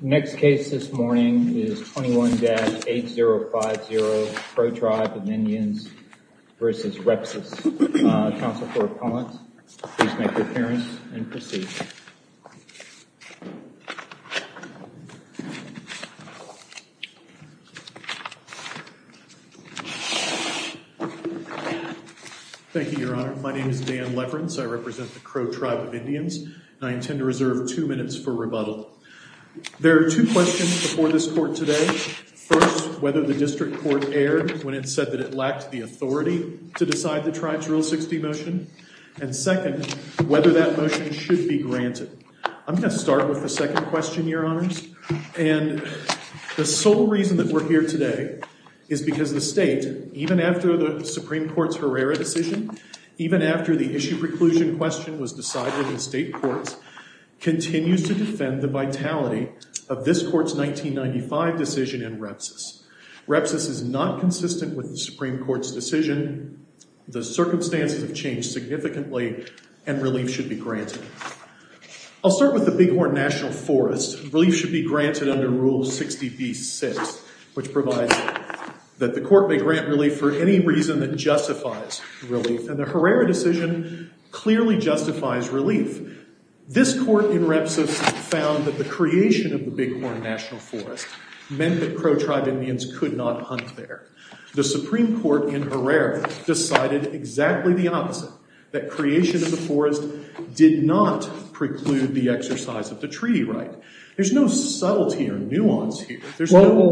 Next case this morning is 21-8050 Crow Tribe of Indians v. Repsis. Counsel for Appellant, please make your appearance and proceed. Thank you, Your Honor. My name is Dan Leverence. I represent the Crow Tribe of Indians and I intend to reserve two minutes for rebuttal. There are two questions before this court today. First, whether the district court erred when it said that it lacked the authority to decide the Tribe's Rule 60 motion. And second, whether that motion should be granted. I'm going to start with the second question, Your Honors. And the sole reason that we're here today is because the state, even after the Supreme Court's Herrera decision, even after the issue preclusion question was decided in state courts, continues to defend the vitality of this court's 1995 decision in Repsis. Repsis is not consistent with the Supreme Court's decision. The circumstances have changed significantly and relief should be granted. I'll start with the Bighorn National Forest. Relief should be granted under Rule 60b-6, which provides that the court may grant relief for any reason that justifies relief. And the Herrera decision clearly justifies relief. This court in Repsis found that the creation of the Bighorn National Forest meant that Crow Tribe Indians could not hunt there. The Supreme Court in Herrera decided exactly the opposite, that creation of the forest did not preclude the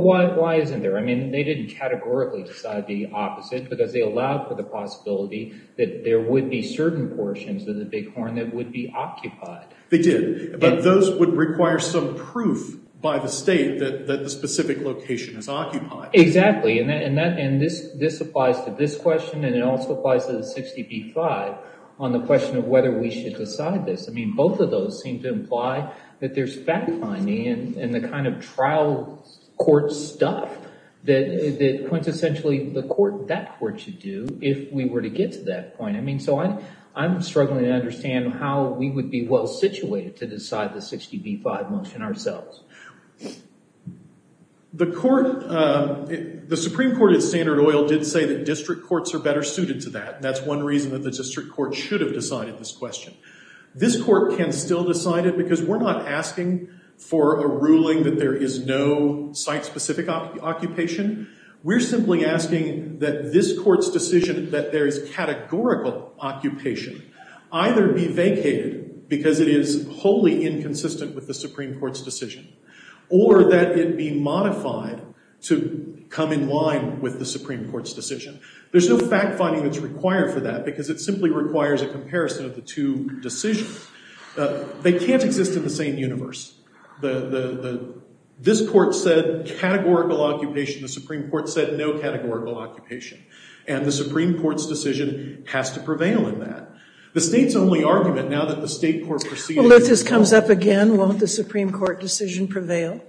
Why isn't there? I mean, they didn't categorically decide the opposite because they allowed for the possibility that there would be certain portions of the Bighorn that would be occupied. They did. But those would require some proof by the state that the specific location is occupied. Exactly. And this applies to this question and it also applies to the 60b-5 on the question of whether we should decide this. I mean, both of those seem to imply that there's fact-finding and the kind of trial court stuff that quintessentially that court should do if we were to get to that point. I mean, so I'm struggling to understand how we would be well-situated to decide the 60b-5 motion ourselves. The Supreme Court at Standard Oil did say that district courts are better suited to that. That's one reason that the district court should have decided this question. This court can still decide it because we're not asking for a ruling that there is no site-specific occupation. We're simply asking that this court's decision that there is categorical occupation either be vacated because it is wholly inconsistent with the Supreme Court's decision or that it be modified to come in line with the Supreme Court's decision. There's no fact-finding that's required for that because it simply requires a comparison of the two decisions. They can't exist in the same universe. This court said categorical occupation. The Supreme Court said no categorical occupation. And the Supreme Court's decision has to prevail in that. The state's only argument now that the state court proceeded... Well, if this comes up again, won't the Supreme Court decision prevail?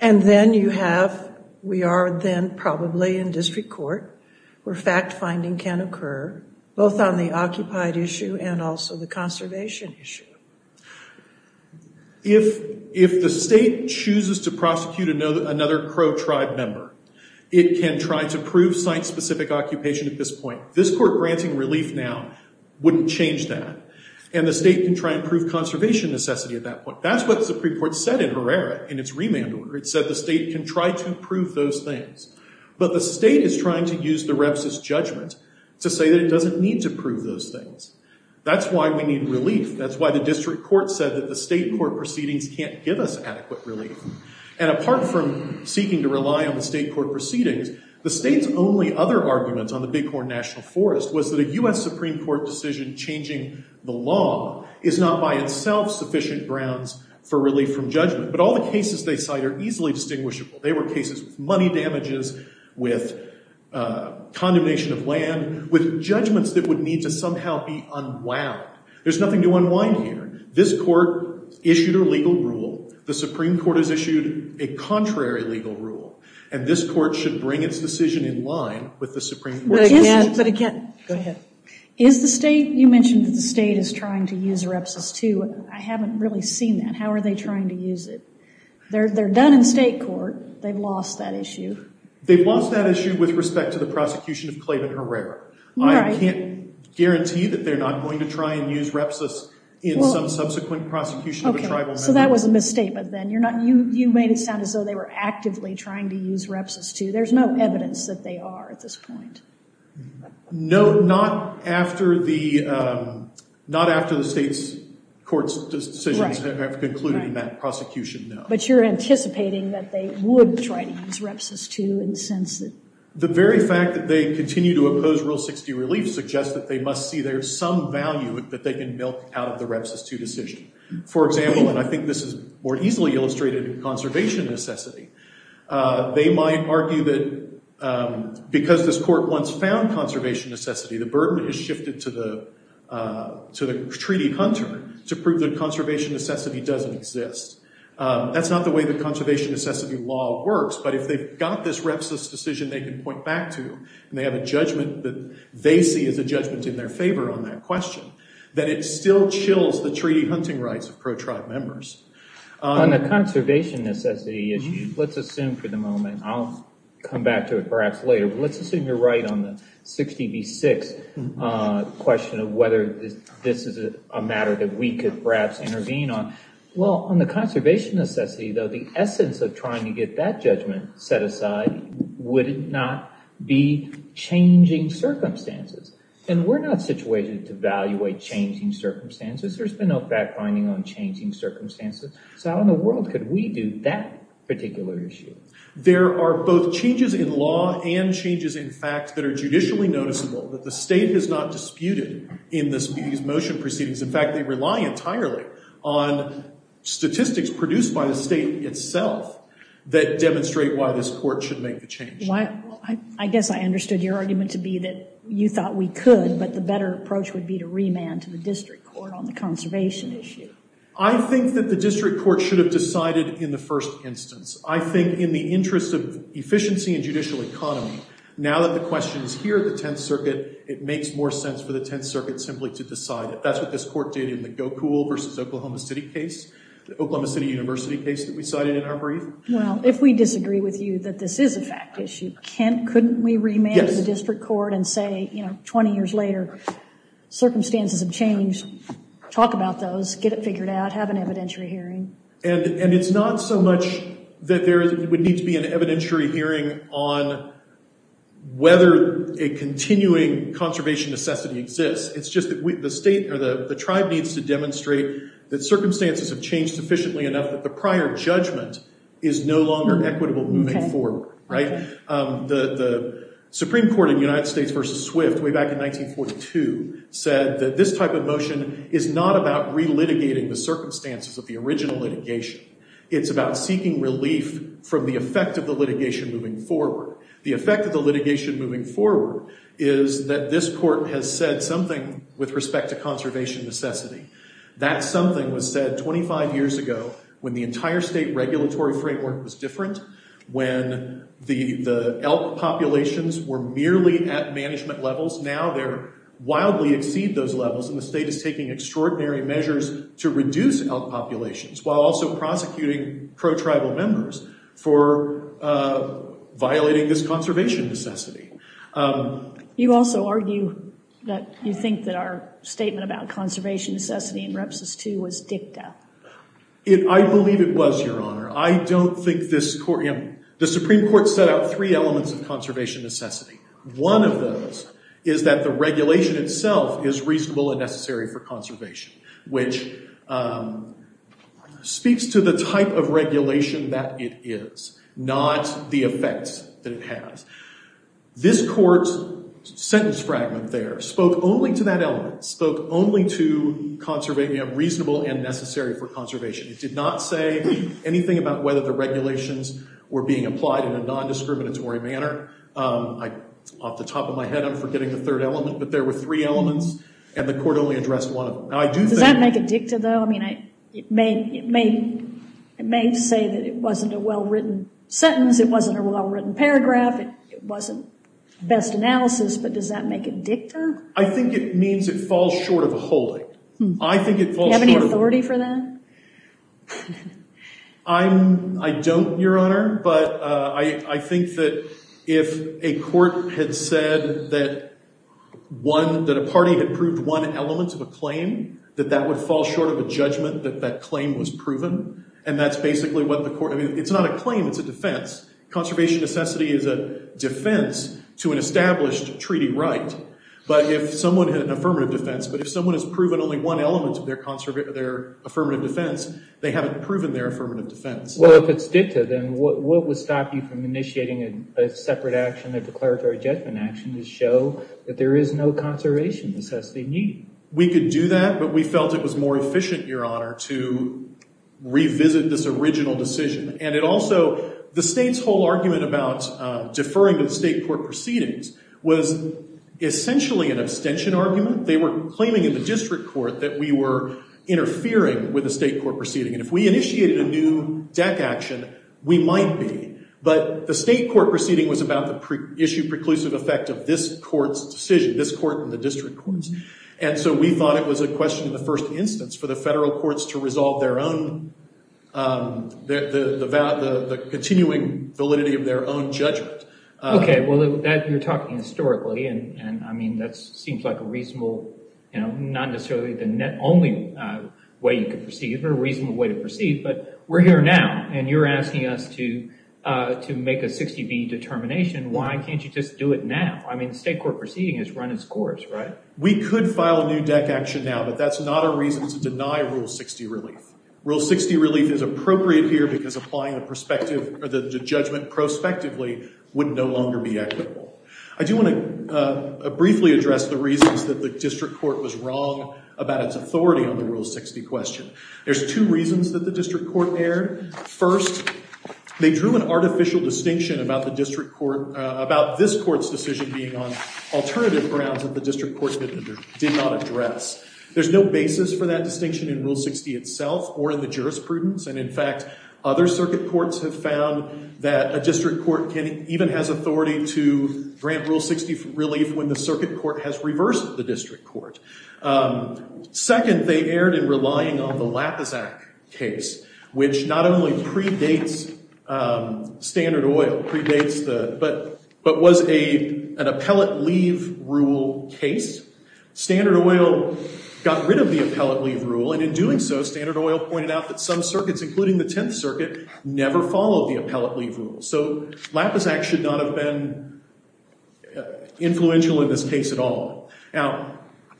And then you have, we are then probably in district court where fact-finding can occur. Both on the occupied issue and also the conservation issue. If the state chooses to prosecute another Crow tribe member, it can try to prove site-specific occupation at this point. This court granting relief now wouldn't change that. And the state can try and prove conservation necessity at that point. That's what the Supreme Court said in Herrera in its remand order. It said the state can try to prove those things. But the state is trying to use the Rep's judgment to say that it doesn't need to prove those things. That's why we need relief. That's why the district court said that the state court proceedings can't give us adequate relief. And apart from seeking to rely on the state court proceedings, the state's only other argument on the Bighorn National Forest was that a U.S. Supreme Court decision changing the law is not by itself sufficient grounds for relief from judgment. But all the cases they cite are condemnation of land with judgments that would need to somehow be unwound. There's nothing to unwind here. This court issued a legal rule. The Supreme Court has issued a contrary legal rule. And this court should bring its decision in line with the Supreme Court's. But again, but again, go ahead. Is the state, you mentioned that the state is trying to use Rep's too. I haven't really seen that. How are they trying to use it? They're done in state court. They've lost that issue. They've lost that issue with respect to the prosecution of Clayton Herrera. I can't guarantee that they're not going to try and use Rep's in some subsequent prosecution of a tribal member. Okay, so that was a misstatement then. You made it sound as though they were actively trying to use Rep's too. There's no evidence that they are at this point. No, not after the state's court's decisions have concluded that prosecution, no. You're anticipating that they would try to use Rep's too in the sense that... The very fact that they continue to oppose Rule 60 relief suggests that they must see there's some value that they can milk out of the Rep's too decision. For example, and I think this is more easily illustrated in conservation necessity, they might argue that because this court once found conservation necessity, the burden has shifted to the treaty hunter to prove that the conservation necessity law works, but if they've got this Rep's decision they can point back to and they have a judgment that they see as a judgment in their favor on that question, that it still chills the treaty hunting rights of pro-tribe members. On the conservation necessity issue, let's assume for the moment, I'll come back to it perhaps later, but let's assume you're right on the 60 v. 6 question of whether this is a matter that we perhaps intervene on. Well, on the conservation necessity though, the essence of trying to get that judgment set aside, would it not be changing circumstances? And we're not situated to evaluate changing circumstances. There's been no fact finding on changing circumstances. So how in the world could we do that particular issue? There are both changes in law and changes in facts that are judicially noticeable that the state has not disputed in these motion proceedings. In fact, they rely entirely on statistics produced by the state itself that demonstrate why this court should make the change. Well, I guess I understood your argument to be that you thought we could, but the better approach would be to remand to the district court on the conservation issue. I think that the district court should have decided in the first instance. I think in the interest of efficiency and judicial economy, now that the question is here at the 10th Circuit, simply to decide it. That's what this court did in the Gokul versus Oklahoma City case, the Oklahoma City University case that we cited in our brief. Well, if we disagree with you that this is a fact issue, couldn't we remand to the district court and say, you know, 20 years later, circumstances have changed. Talk about those, get it figured out, have an evidentiary hearing. And it's not so much that there would need to be an evidentiary hearing on whether a it's just that the tribe needs to demonstrate that circumstances have changed efficiently enough that the prior judgment is no longer equitable moving forward, right? The Supreme Court in United States versus Swift way back in 1942 said that this type of motion is not about relitigating the circumstances of the original litigation. It's about seeking relief from the effect of the litigation moving forward. The effect of the litigation moving forward is that this court has said something with respect to conservation necessity. That something was said 25 years ago when the entire state regulatory framework was different, when the elk populations were merely at management levels. Now they're wildly exceed those levels and the state is taking extraordinary measures to reduce elk populations while also prosecuting pro-tribal members for violating this conservation necessity. You also argue that you think that our statement about conservation necessity in Repsos 2 was dicta. I believe it was, Your Honor. I don't think this court, the Supreme Court set out three elements of conservation necessity. One of those is that the regulation itself is reasonable and necessary for conservation, which speaks to the type of element it has. This court's sentence fragment there spoke only to that element, spoke only to conservation, you know, reasonable and necessary for conservation. It did not say anything about whether the regulations were being applied in a non-discriminatory manner. Off the top of my head I'm forgetting the third element, but there were three elements and the court only addressed one of them. Does that make it dicta though? I mean, it may say that it wasn't a well-written sentence, it wasn't a well-written paragraph, it wasn't best analysis, but does that make it dicta? I think it means it falls short of a holding. Do you have any authority for that? I don't, Your Honor, but I think that if a court had said that one, that a party had proved one element of a claim, that that would fall short of a judgment that that claim was proven. And that's basically what the court... I mean, it's not a claim, it's a defense. Conservation necessity is a defense to an established treaty right. But if someone had an affirmative defense, but if someone has proven only one element of their affirmative defense, they haven't proven their affirmative defense. Well, if it's dicta, then what would stop you from initiating a separate action, a declaratory judgment action to show that there is no conservation necessity needed? We could do that, but we felt it was more efficient, Your Honor, to revisit this original decision. And it also... The state's whole argument about deferring to the state court proceedings was essentially an abstention argument. They were claiming in the district court that we were interfering with the state court proceeding. And if we initiated a new deck action, we might be. But the state court proceeding was about the issue preclusive effect of this court's decision, this court and the district courts. And so we thought it was a first instance for the federal courts to resolve the continuing validity of their own judgment. Okay. Well, you're talking historically, and I mean, that seems like a reasonable, not necessarily the only way you could proceed, but a reasonable way to proceed. But we're here now, and you're asking us to make a 60B determination. Why can't you just do it now? I mean, the state court proceeding has run its course, right? We could file a new deck action now, but that's not a reason to deny Rule 60 relief. Rule 60 relief is appropriate here because applying the perspective or the judgment prospectively would no longer be equitable. I do want to briefly address the reasons that the district court was wrong about its authority on the Rule 60 question. There's two reasons that the district court erred. First, they drew an artificial distinction about this court's decision being on did not address. There's no basis for that distinction in Rule 60 itself or in the jurisprudence. And in fact, other circuit courts have found that a district court even has authority to grant Rule 60 relief when the circuit court has reversed the district court. Second, they erred in relying on the Lappizak case, which not only predates standard oil, but was an appellate leave rule case. Standard oil got rid of the appellate leave rule. And in doing so, standard oil pointed out that some circuits, including the 10th Circuit, never followed the appellate leave rule. So Lappizak should not have been influential in this case at all. Now,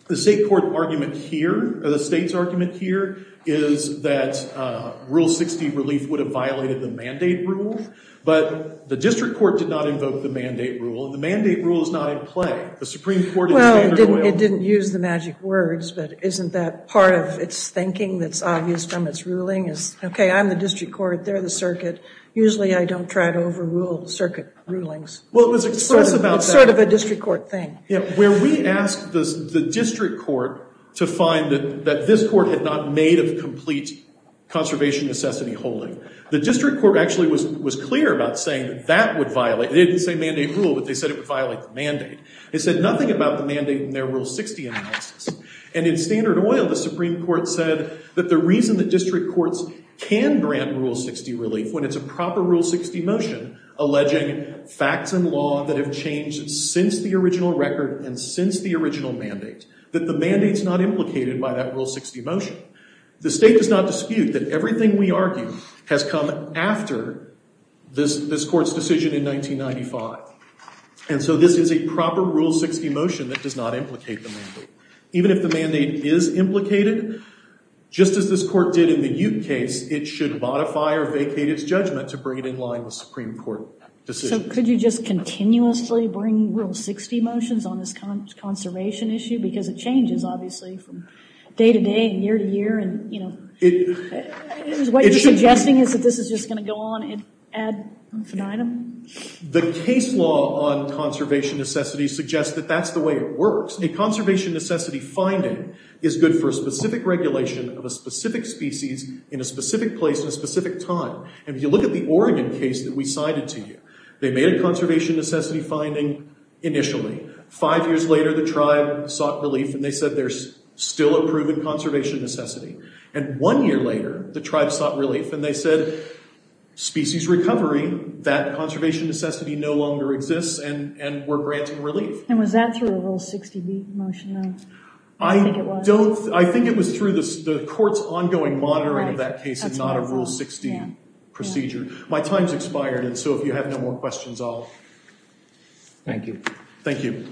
the state court argument here or the state's argument here is that Rule 60 relief would have violated the mandate rule. But the district court did not invoke the mandate rule. And the mandate rule is not in play. The Supreme Court is standard oil. Well, it didn't use the magic words. But isn't that part of its thinking that's obvious from its ruling is, OK, I'm the district court. They're the circuit. Usually, I don't try to overrule circuit rulings. Well, it was expressed about that. It's sort of a district court thing. Where we asked the district court to find that this court had not made a complete conservation necessity holding, the district court actually was clear about saying that that would violate. They didn't say mandate rule, but they said it would violate the mandate. They said nothing about the mandate in their Rule 60 analysis. And in standard oil, the Supreme Court said that the reason that district courts can grant Rule 60 relief when it's a proper Rule 60 motion alleging facts and law that have changed since the original record and since the original mandate, that the mandate's not implicated by that Rule 60 motion. The state does not dispute that everything we argue has come after this court's decision in 1995. And so this is a proper Rule 60 motion that does not implicate the mandate. Even if the mandate is implicated, just as this court did in the Ute case, it should modify or vacate its judgment to bring it in line with Supreme Court decisions. So could you just continuously bring Rule 60 motions on this conservation issue? Because it changes, obviously, from day to day and year to year. And, you know, what you're suggesting is that this is just going to go on ad infinitum? The case law on conservation necessity suggests that that's the way it works. A conservation necessity finding is good for a specific regulation of a specific species in a specific place at a specific time. And if you look at the Oregon case that we cited to you, they made a conservation necessity finding initially. Five years later, the tribe sought relief. And they said there's still a proven conservation necessity. And one year later, the tribe sought relief. And they said, species recovery, that conservation necessity no longer exists. And we're granting relief. And was that through a Rule 60 motion, though? I don't think it was. The court's ongoing monitoring of that case is not a Rule 60 procedure. My time's expired. And so if you have no more questions, I'll... Thank you. Thank you.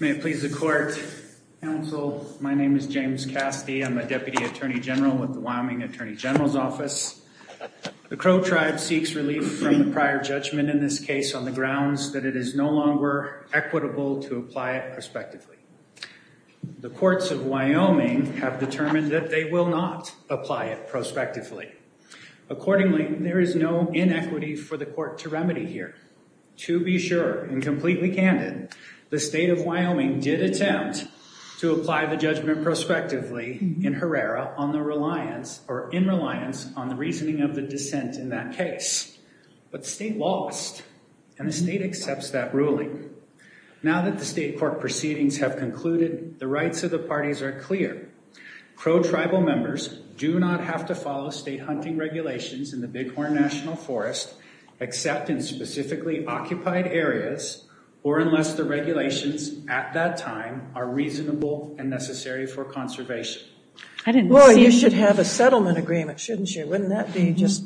May it please the court. Counsel, my name is James Castee. I'm a Deputy Attorney General with the Wyoming Attorney General's Office. The Crow tribe seeks relief from the prior judgment in this case on the grounds that it is no longer equitable to apply it prospectively. The courts of Wyoming have determined that they will not apply it prospectively. Accordingly, there is no inequity for the court to remedy here. To be sure, and completely candid, the state of Wyoming did attempt to apply the judgment prospectively in Herrera on the reliance, or in reliance, on the reasoning of the dissent in that case. But the state lost. And the state accepts that ruling. Now that the state court proceedings have concluded, the rights of the parties are clear. Crow tribal members do not have to follow state hunting regulations in the Bighorn National Forest except in specifically occupied areas, or unless the regulations at that time are reasonable and necessary for conservation. Well, you should have a settlement agreement, shouldn't you? Wouldn't that be just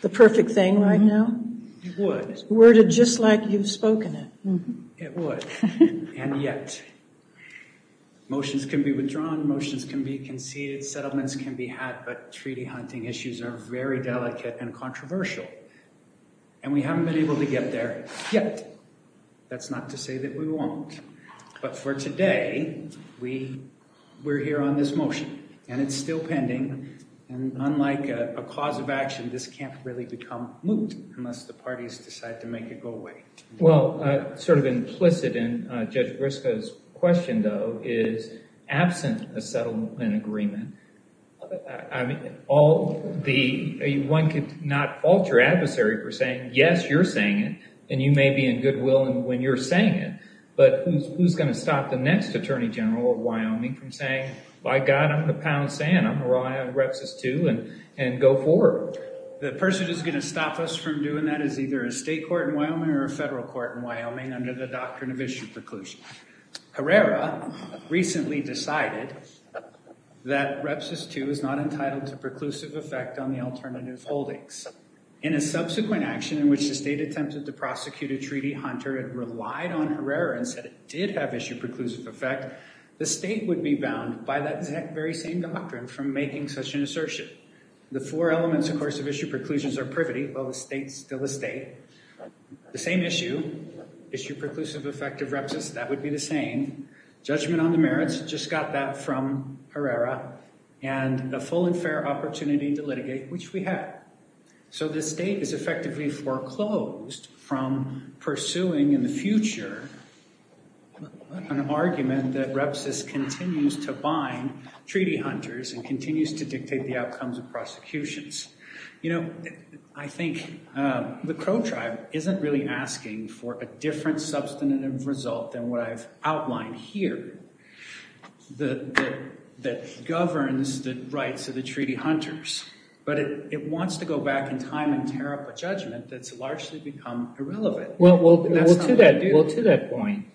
the perfect thing right now? It would. Worded just like you've spoken it. It would. And yet, motions can be withdrawn. Motions can be conceded. Settlements can be had. But treaty hunting issues are very delicate and controversial. And we haven't been able to get there yet. That's not to say that we won't. But for today, we're here on this motion. And it's still pending. And unlike a cause of action, this can't really become moot unless the parties decide to make it go away. Well, sort of implicit in Judge Briscoe's question, though, is absent a settlement agreement, one could not fault your adversary for saying, yes, you're saying it. And you may be in good will when you're saying it. But who's going to stop the next attorney general of Wyoming from saying, by God, I'm a pound sand. I'm going to have Repsys 2 and go forward. The person who's going to stop us from doing that is either a state court in Wyoming or a federal court in Wyoming under the doctrine of issue preclusion. Herrera recently decided that Repsys 2 is not entitled to preclusive effect on the alternative holdings. In a subsequent action in which the state attempted to prosecute a treaty hunter and relied on Herrera and said it did have issue preclusive effect, the state would be bound by that very same doctrine from making such an assertion. The four elements, of course, of issue preclusions are privity. Well, the state's still a state. The same issue, issue preclusive effect of Repsys, that would be the same. Judgment on the merits, just got that from Herrera. And a full and fair opportunity to litigate, which we have. So the state is effectively foreclosed from pursuing in the future an argument that Repsys continues to bind treaty hunters and continues to dictate the outcomes of prosecutions. You know, I think the Crow tribe isn't really asking for a different substantive result than what I've outlined here that governs the rights of the treaty hunters. But it wants to go back in time and tear up a judgment that's largely become irrelevant. Well, to that point,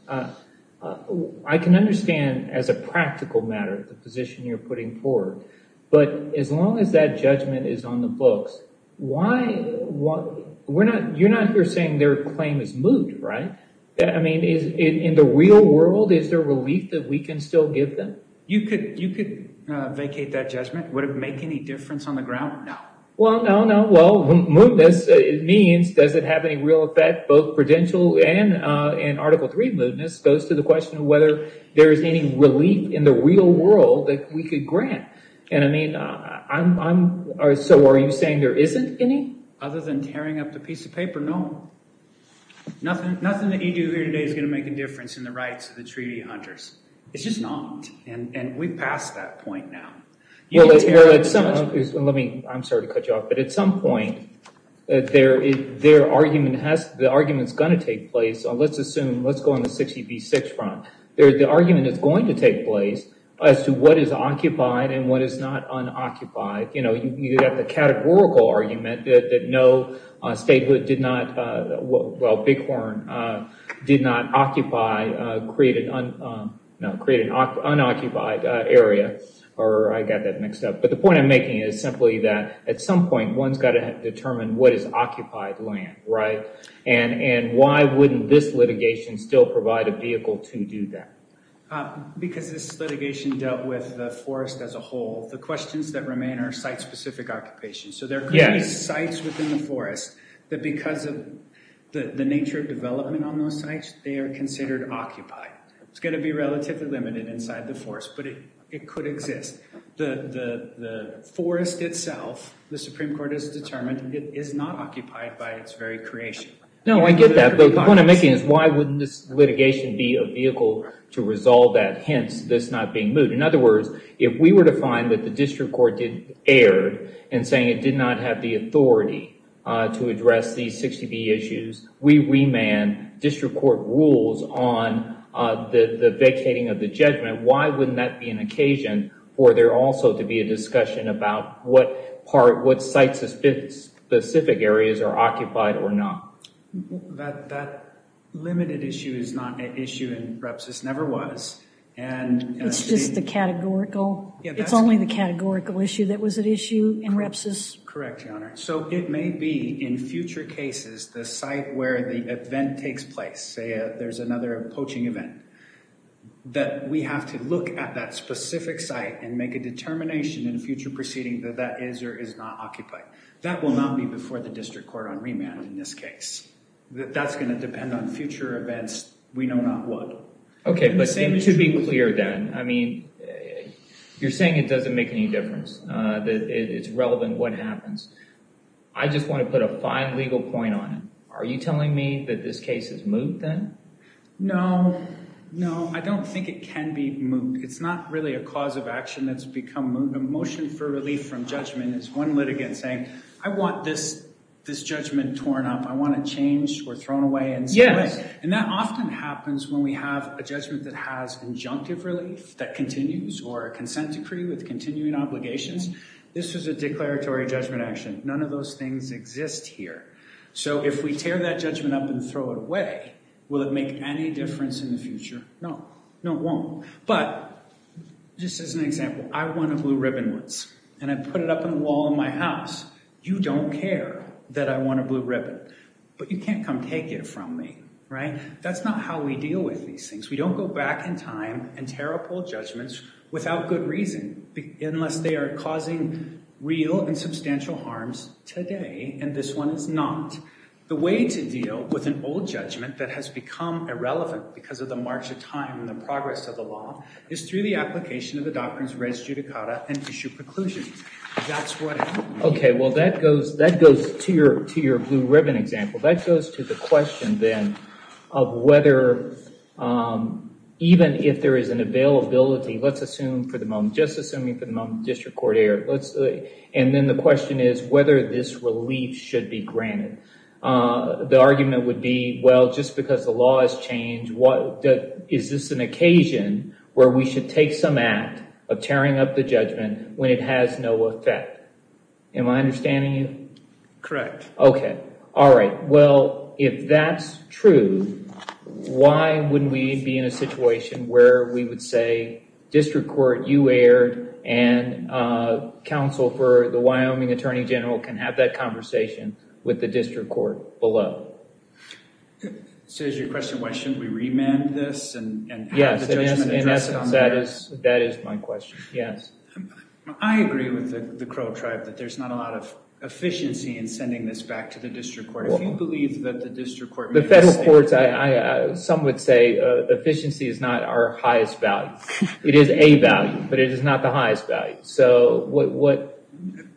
I can understand as a practical matter the position you're putting forward. But as long as that judgment is on the books, you're not here saying their claim is moot, right? I mean, in the real world, is there relief that we can still give them? You could vacate that judgment. Would it make any difference on the ground? No. Well, no, no. Well, mootness, it means, does it have any real effect? Both prudential and Article III mootness goes to the question of whether there is any relief in the real world that we could grant. And I mean, so are you saying there isn't any? Other than tearing up the piece of paper, no. Nothing that you do here today is going to make a difference in the rights of the treaty hunters. It's just not. And we've passed that point now. Well, let me, I'm sorry to cut you off, but at some point, the argument's going to take place. Let's assume, let's go on the 60 v. 6 front. The argument is going to take place as to what is occupied and what is not unoccupied. You know, you have the categorical argument that no statehood did not, well, Bighorn did not occupy, create an unoccupied area, or I got that mixed up. But the point I'm making is simply that at some point, one's got to determine what is occupied land, right? And why wouldn't this litigation still provide a vehicle to do that? Because this litigation dealt with the forest as a whole. The questions that remain are site-specific occupations. So there could be sites within the forest that because of the nature of development on those sites, they are considered occupied. It's going to be relatively limited inside the forest, but it could exist. The forest itself, the Supreme Court has determined it is not occupied by its very creation. No, I get that. But the point I'm making is why wouldn't this litigation be a vehicle to resolve that? Hence, this not being moved. In other words, if we were to find that the district court did, erred in saying it did not have the authority to address these 60B issues, we remand district court rules on the vacating of the judgment, why wouldn't that be an occasion for there also to be a discussion about what part, what site-specific areas are occupied or not? That limited issue is not an issue in REPSIS, never was. It's just the categorical. It's only the categorical issue that was at issue in REPSIS. Correct, Your Honor. So it may be in future cases, the site where the event takes place, say there's another poaching event, that we have to look at that specific site and make a determination in future proceeding that that is or is not occupied. That will not be before the district court on remand in this case. That's going to depend on future events. We know not what. Okay, but to be clear then, I mean, you're saying it doesn't make any difference. It's relevant what happens. I just want to put a fine legal point on it. Are you telling me that this case is moot then? No, no, I don't think it can be moot. It's not really a cause of action that's become moot. A motion for relief from judgment is one litigant saying, I want this judgment torn up. I want it changed or thrown away in some way. And that often happens when we have a judgment that has injunctive relief that continues or a consent decree with continuing obligations. This is a declaratory judgment action. None of those things exist here. So if we tear that judgment up and throw it away, will it make any difference in the future? No, no, it won't. But just as an example, I want a blue ribbon once and I put it up on the wall in my house. You don't care that I want a blue ribbon, but you can't come take it from me, right? That's not how we deal with these things. We don't go back in time and tear up old judgments without good reason, unless they are causing real and substantial harms today. And this one is not. The way to deal with an old judgment that has become irrelevant because of the march of time and the progress of the law is through the application of the doctrines res judicata and issue preclusions. That's what happens. OK, well, that goes to your blue ribbon example. That goes to the question then of whether even if there is an availability, let's assume for the moment, just assuming for the moment, district court error. And then the question is whether this relief should be granted. The argument would be, well, just because the law has changed, is this an occasion where we should take some act of tearing up the judgment when it has no effect? Am I understanding you? Correct. OK. All right. Well, if that's true, why wouldn't we be in a situation where we would say district court, you erred, and counsel for the Wyoming attorney general can have that conversation with the district court below? So is your question, why shouldn't we remand this and have the judgment addressed on there? Yes, in essence, that is my question. Yes. I agree with the Crow tribe that there's not a lot of efficiency in sending this back to the district court. If you believe that the district court may have... The federal courts, some would say efficiency is not our highest value. It is a value, but it is not the highest value. So what...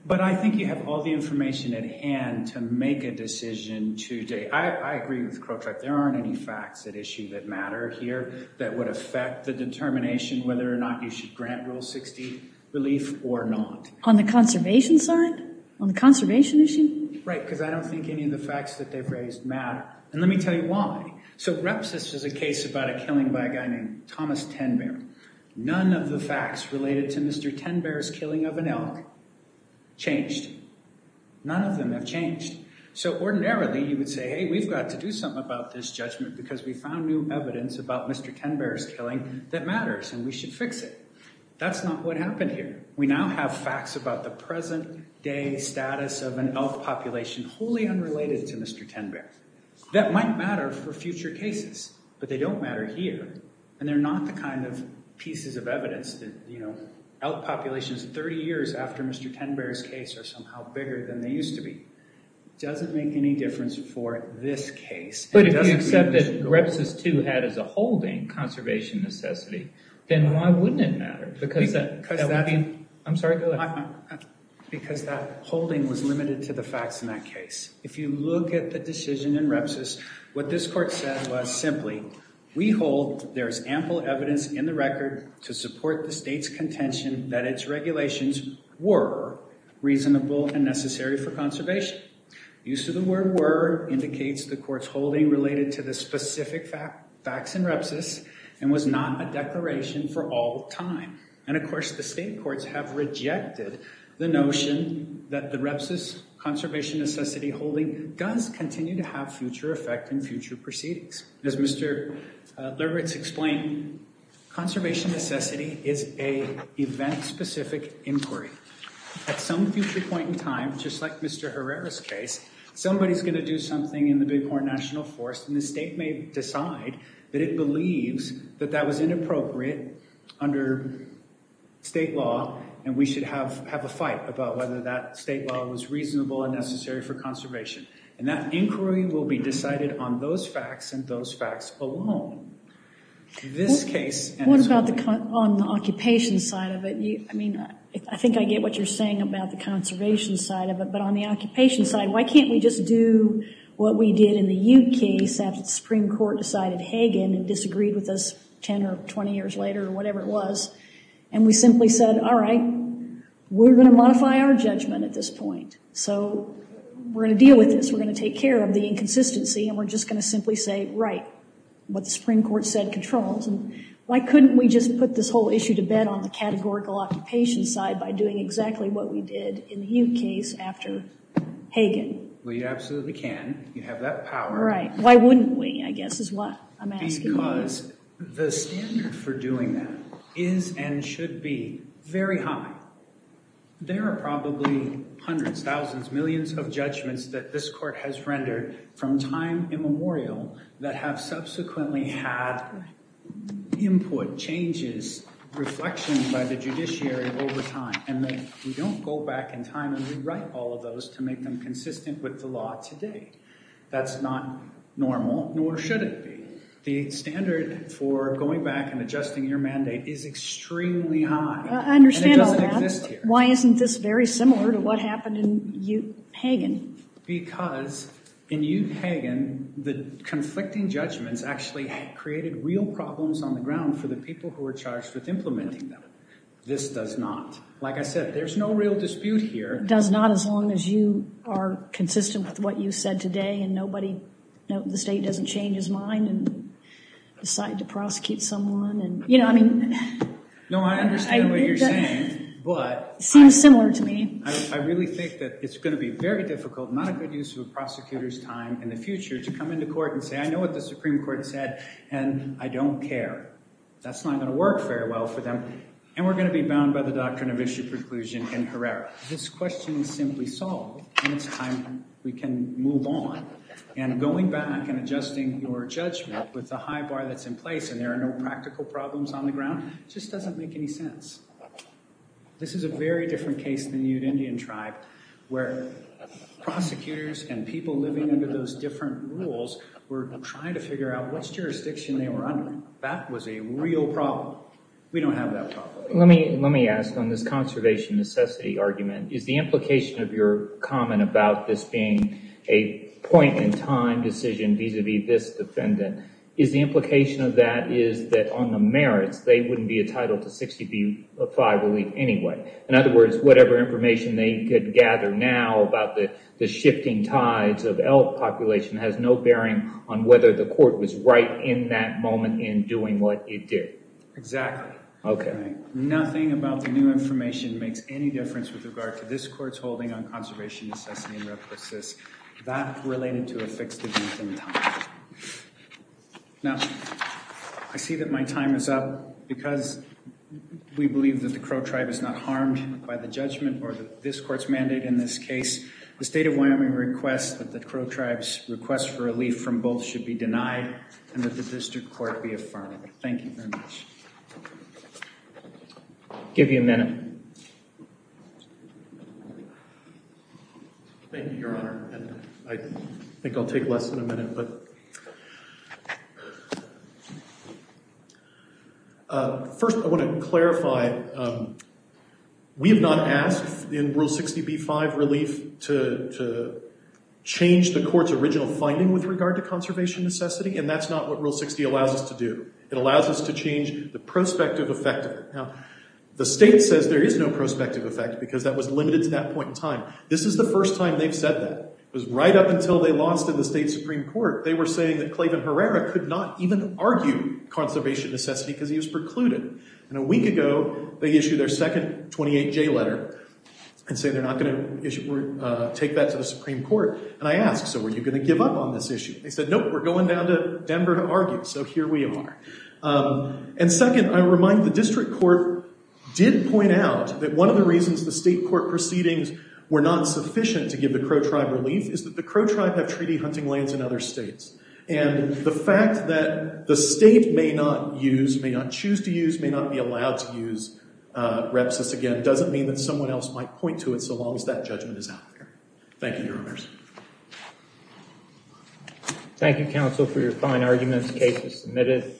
But I think you have all the information at hand to make a decision today. I agree with the Crow tribe. There aren't any facts at issue that matter here that would affect the determination whether or not you should grant Rule 60 relief or not. On the conservation side? On the conservation issue? Right, because I don't think any of the facts that they've raised matter. And let me tell you why. So Repsis is a case about a killing by a guy named Thomas Ten Bear. None of the facts related to Mr. Ten Bear's killing of an elk changed. None of them have changed. So ordinarily, you would say, hey, we've got to do something about this judgment because we found new evidence about Mr. Ten Bear's killing that matters, and we should fix it. That's not what happened here. We now have facts about the present day status of an elk population wholly unrelated to Mr. Ten Bear that might matter for future cases, but they don't matter here. And they're not the kind of pieces of evidence that, you know, elk populations 30 years after Mr. Ten Bear's case are somehow bigger than they used to be. Doesn't make any difference for this case. But if you accept that Repsis 2 had as a holding conservation necessity, then why wouldn't it matter? Because that holding was limited to the facts in that case. If you look at the decision in Repsis, what this court said was simply, we hold there is ample evidence in the record to support the state's contention that its regulations were reasonable and necessary for conservation. Use of the word were indicates the court's holding related to the specific facts in Repsis and was not a declaration for all time. Of course, the state courts have rejected the notion that the Repsis conservation necessity holding does continue to have future effect in future proceedings. As Mr. Lerwitz explained, conservation necessity is an event-specific inquiry. At some future point in time, just like Mr. Herrera's case, somebody's going to do something in the Big Horn National Forest and the state may decide that it believes that that was state law and we should have a fight about whether that state law was reasonable and necessary for conservation. And that inquiry will be decided on those facts and those facts alone. This case- What about on the occupation side of it? I mean, I think I get what you're saying about the conservation side of it, but on the occupation side, why can't we just do what we did in the Ute case after the Supreme Court decided and disagreed with us 10 or 20 years later or whatever it was, and we simply said, all right, we're going to modify our judgment at this point. So we're going to deal with this. We're going to take care of the inconsistency and we're just going to simply say, right, what the Supreme Court said controls. And why couldn't we just put this whole issue to bed on the categorical occupation side by doing exactly what we did in the Ute case after Hagen? Well, you absolutely can. You have that power. Why wouldn't we, I guess, is what I'm asking. Because the standard for doing that is and should be very high. There are probably hundreds, thousands, millions of judgments that this court has rendered from time immemorial that have subsequently had input, changes, reflections by the judiciary over time. And we don't go back in time and rewrite all of those to make them consistent with the law today. That's not normal, nor should it be. The standard for going back and adjusting your mandate is extremely high. I understand all that. Why isn't this very similar to what happened in Ute Hagen? Because in Ute Hagen, the conflicting judgments actually created real problems on the ground for the people who were charged with implementing them. This does not. Like I said, there's no real dispute here. Does not as long as you are consistent with what you said today and the state doesn't change his mind and decide to prosecute someone. No, I understand what you're saying, but I really think that it's going to be very difficult, not a good use of a prosecutor's time in the future to come into court and say, I know what the Supreme Court said, and I don't care. That's not going to work very well for them. And we're going to be bound by the doctrine of issue preclusion in Herrera. This question is simply solved, and it's time we can move on. And going back and adjusting your judgment with the high bar that's in place, and there are no practical problems on the ground, just doesn't make any sense. This is a very different case than the Ute Indian tribe, where prosecutors and people living under those different rules were trying to figure out what jurisdiction they were under. That was a real problem. We don't have that problem. Let me ask on this conservation necessity argument, is the implication of your comment about this being a point in time decision vis-a-vis this defendant, is the implication of that is that on the merits, they wouldn't be entitled to 65 relief anyway. In other words, whatever information they could gather now about the shifting tides of elk population has no bearing on whether the court was right in that moment in doing what it did. Exactly. Okay. Nothing about the new information makes any difference with regard to this court's holding on conservation necessity and requisites that related to a fixed event in time. Now, I see that my time is up. Because we believe that the Crow tribe is not harmed by the judgment or this court's mandate in this case, the state of Wyoming requests that the Crow tribe's request for relief from both should be denied and that the district court be affirmed. Thank you very much. I'll give you a minute. Thank you, Your Honor. And I think I'll take less than a minute. First, I want to clarify, we have not asked in Rule 60b-5 relief to change the court's original finding with regard to conservation necessity. And that's not what Rule 60 allows us to do. It allows us to change the prospective effect of it. Now, the state says there is no prospective effect because that was limited to that point in time. This is the first time they've said that. It was right up until they lost in the state Supreme Court, they were saying that Clavin Herrera could not even argue conservation necessity because he was precluded. And a week ago, they issued their second 28J letter and say they're not going to take that to the Supreme Court. And I asked, so were you going to give up on this issue? They said, nope, we're going down to Denver to argue. So here we are. And second, I remind the district court did point out that one of the reasons the state court proceedings were not sufficient to give the Crow tribe relief is that the Crow tribe have treaty hunting lands in other states. And the fact that the state may not use, may not choose to use, may not be allowed to use REPSIS again doesn't mean that someone else might point to it so long as that judgment is out there. Thank you, Your Honors. Thank you, counsel, for your fine arguments. The case is submitted.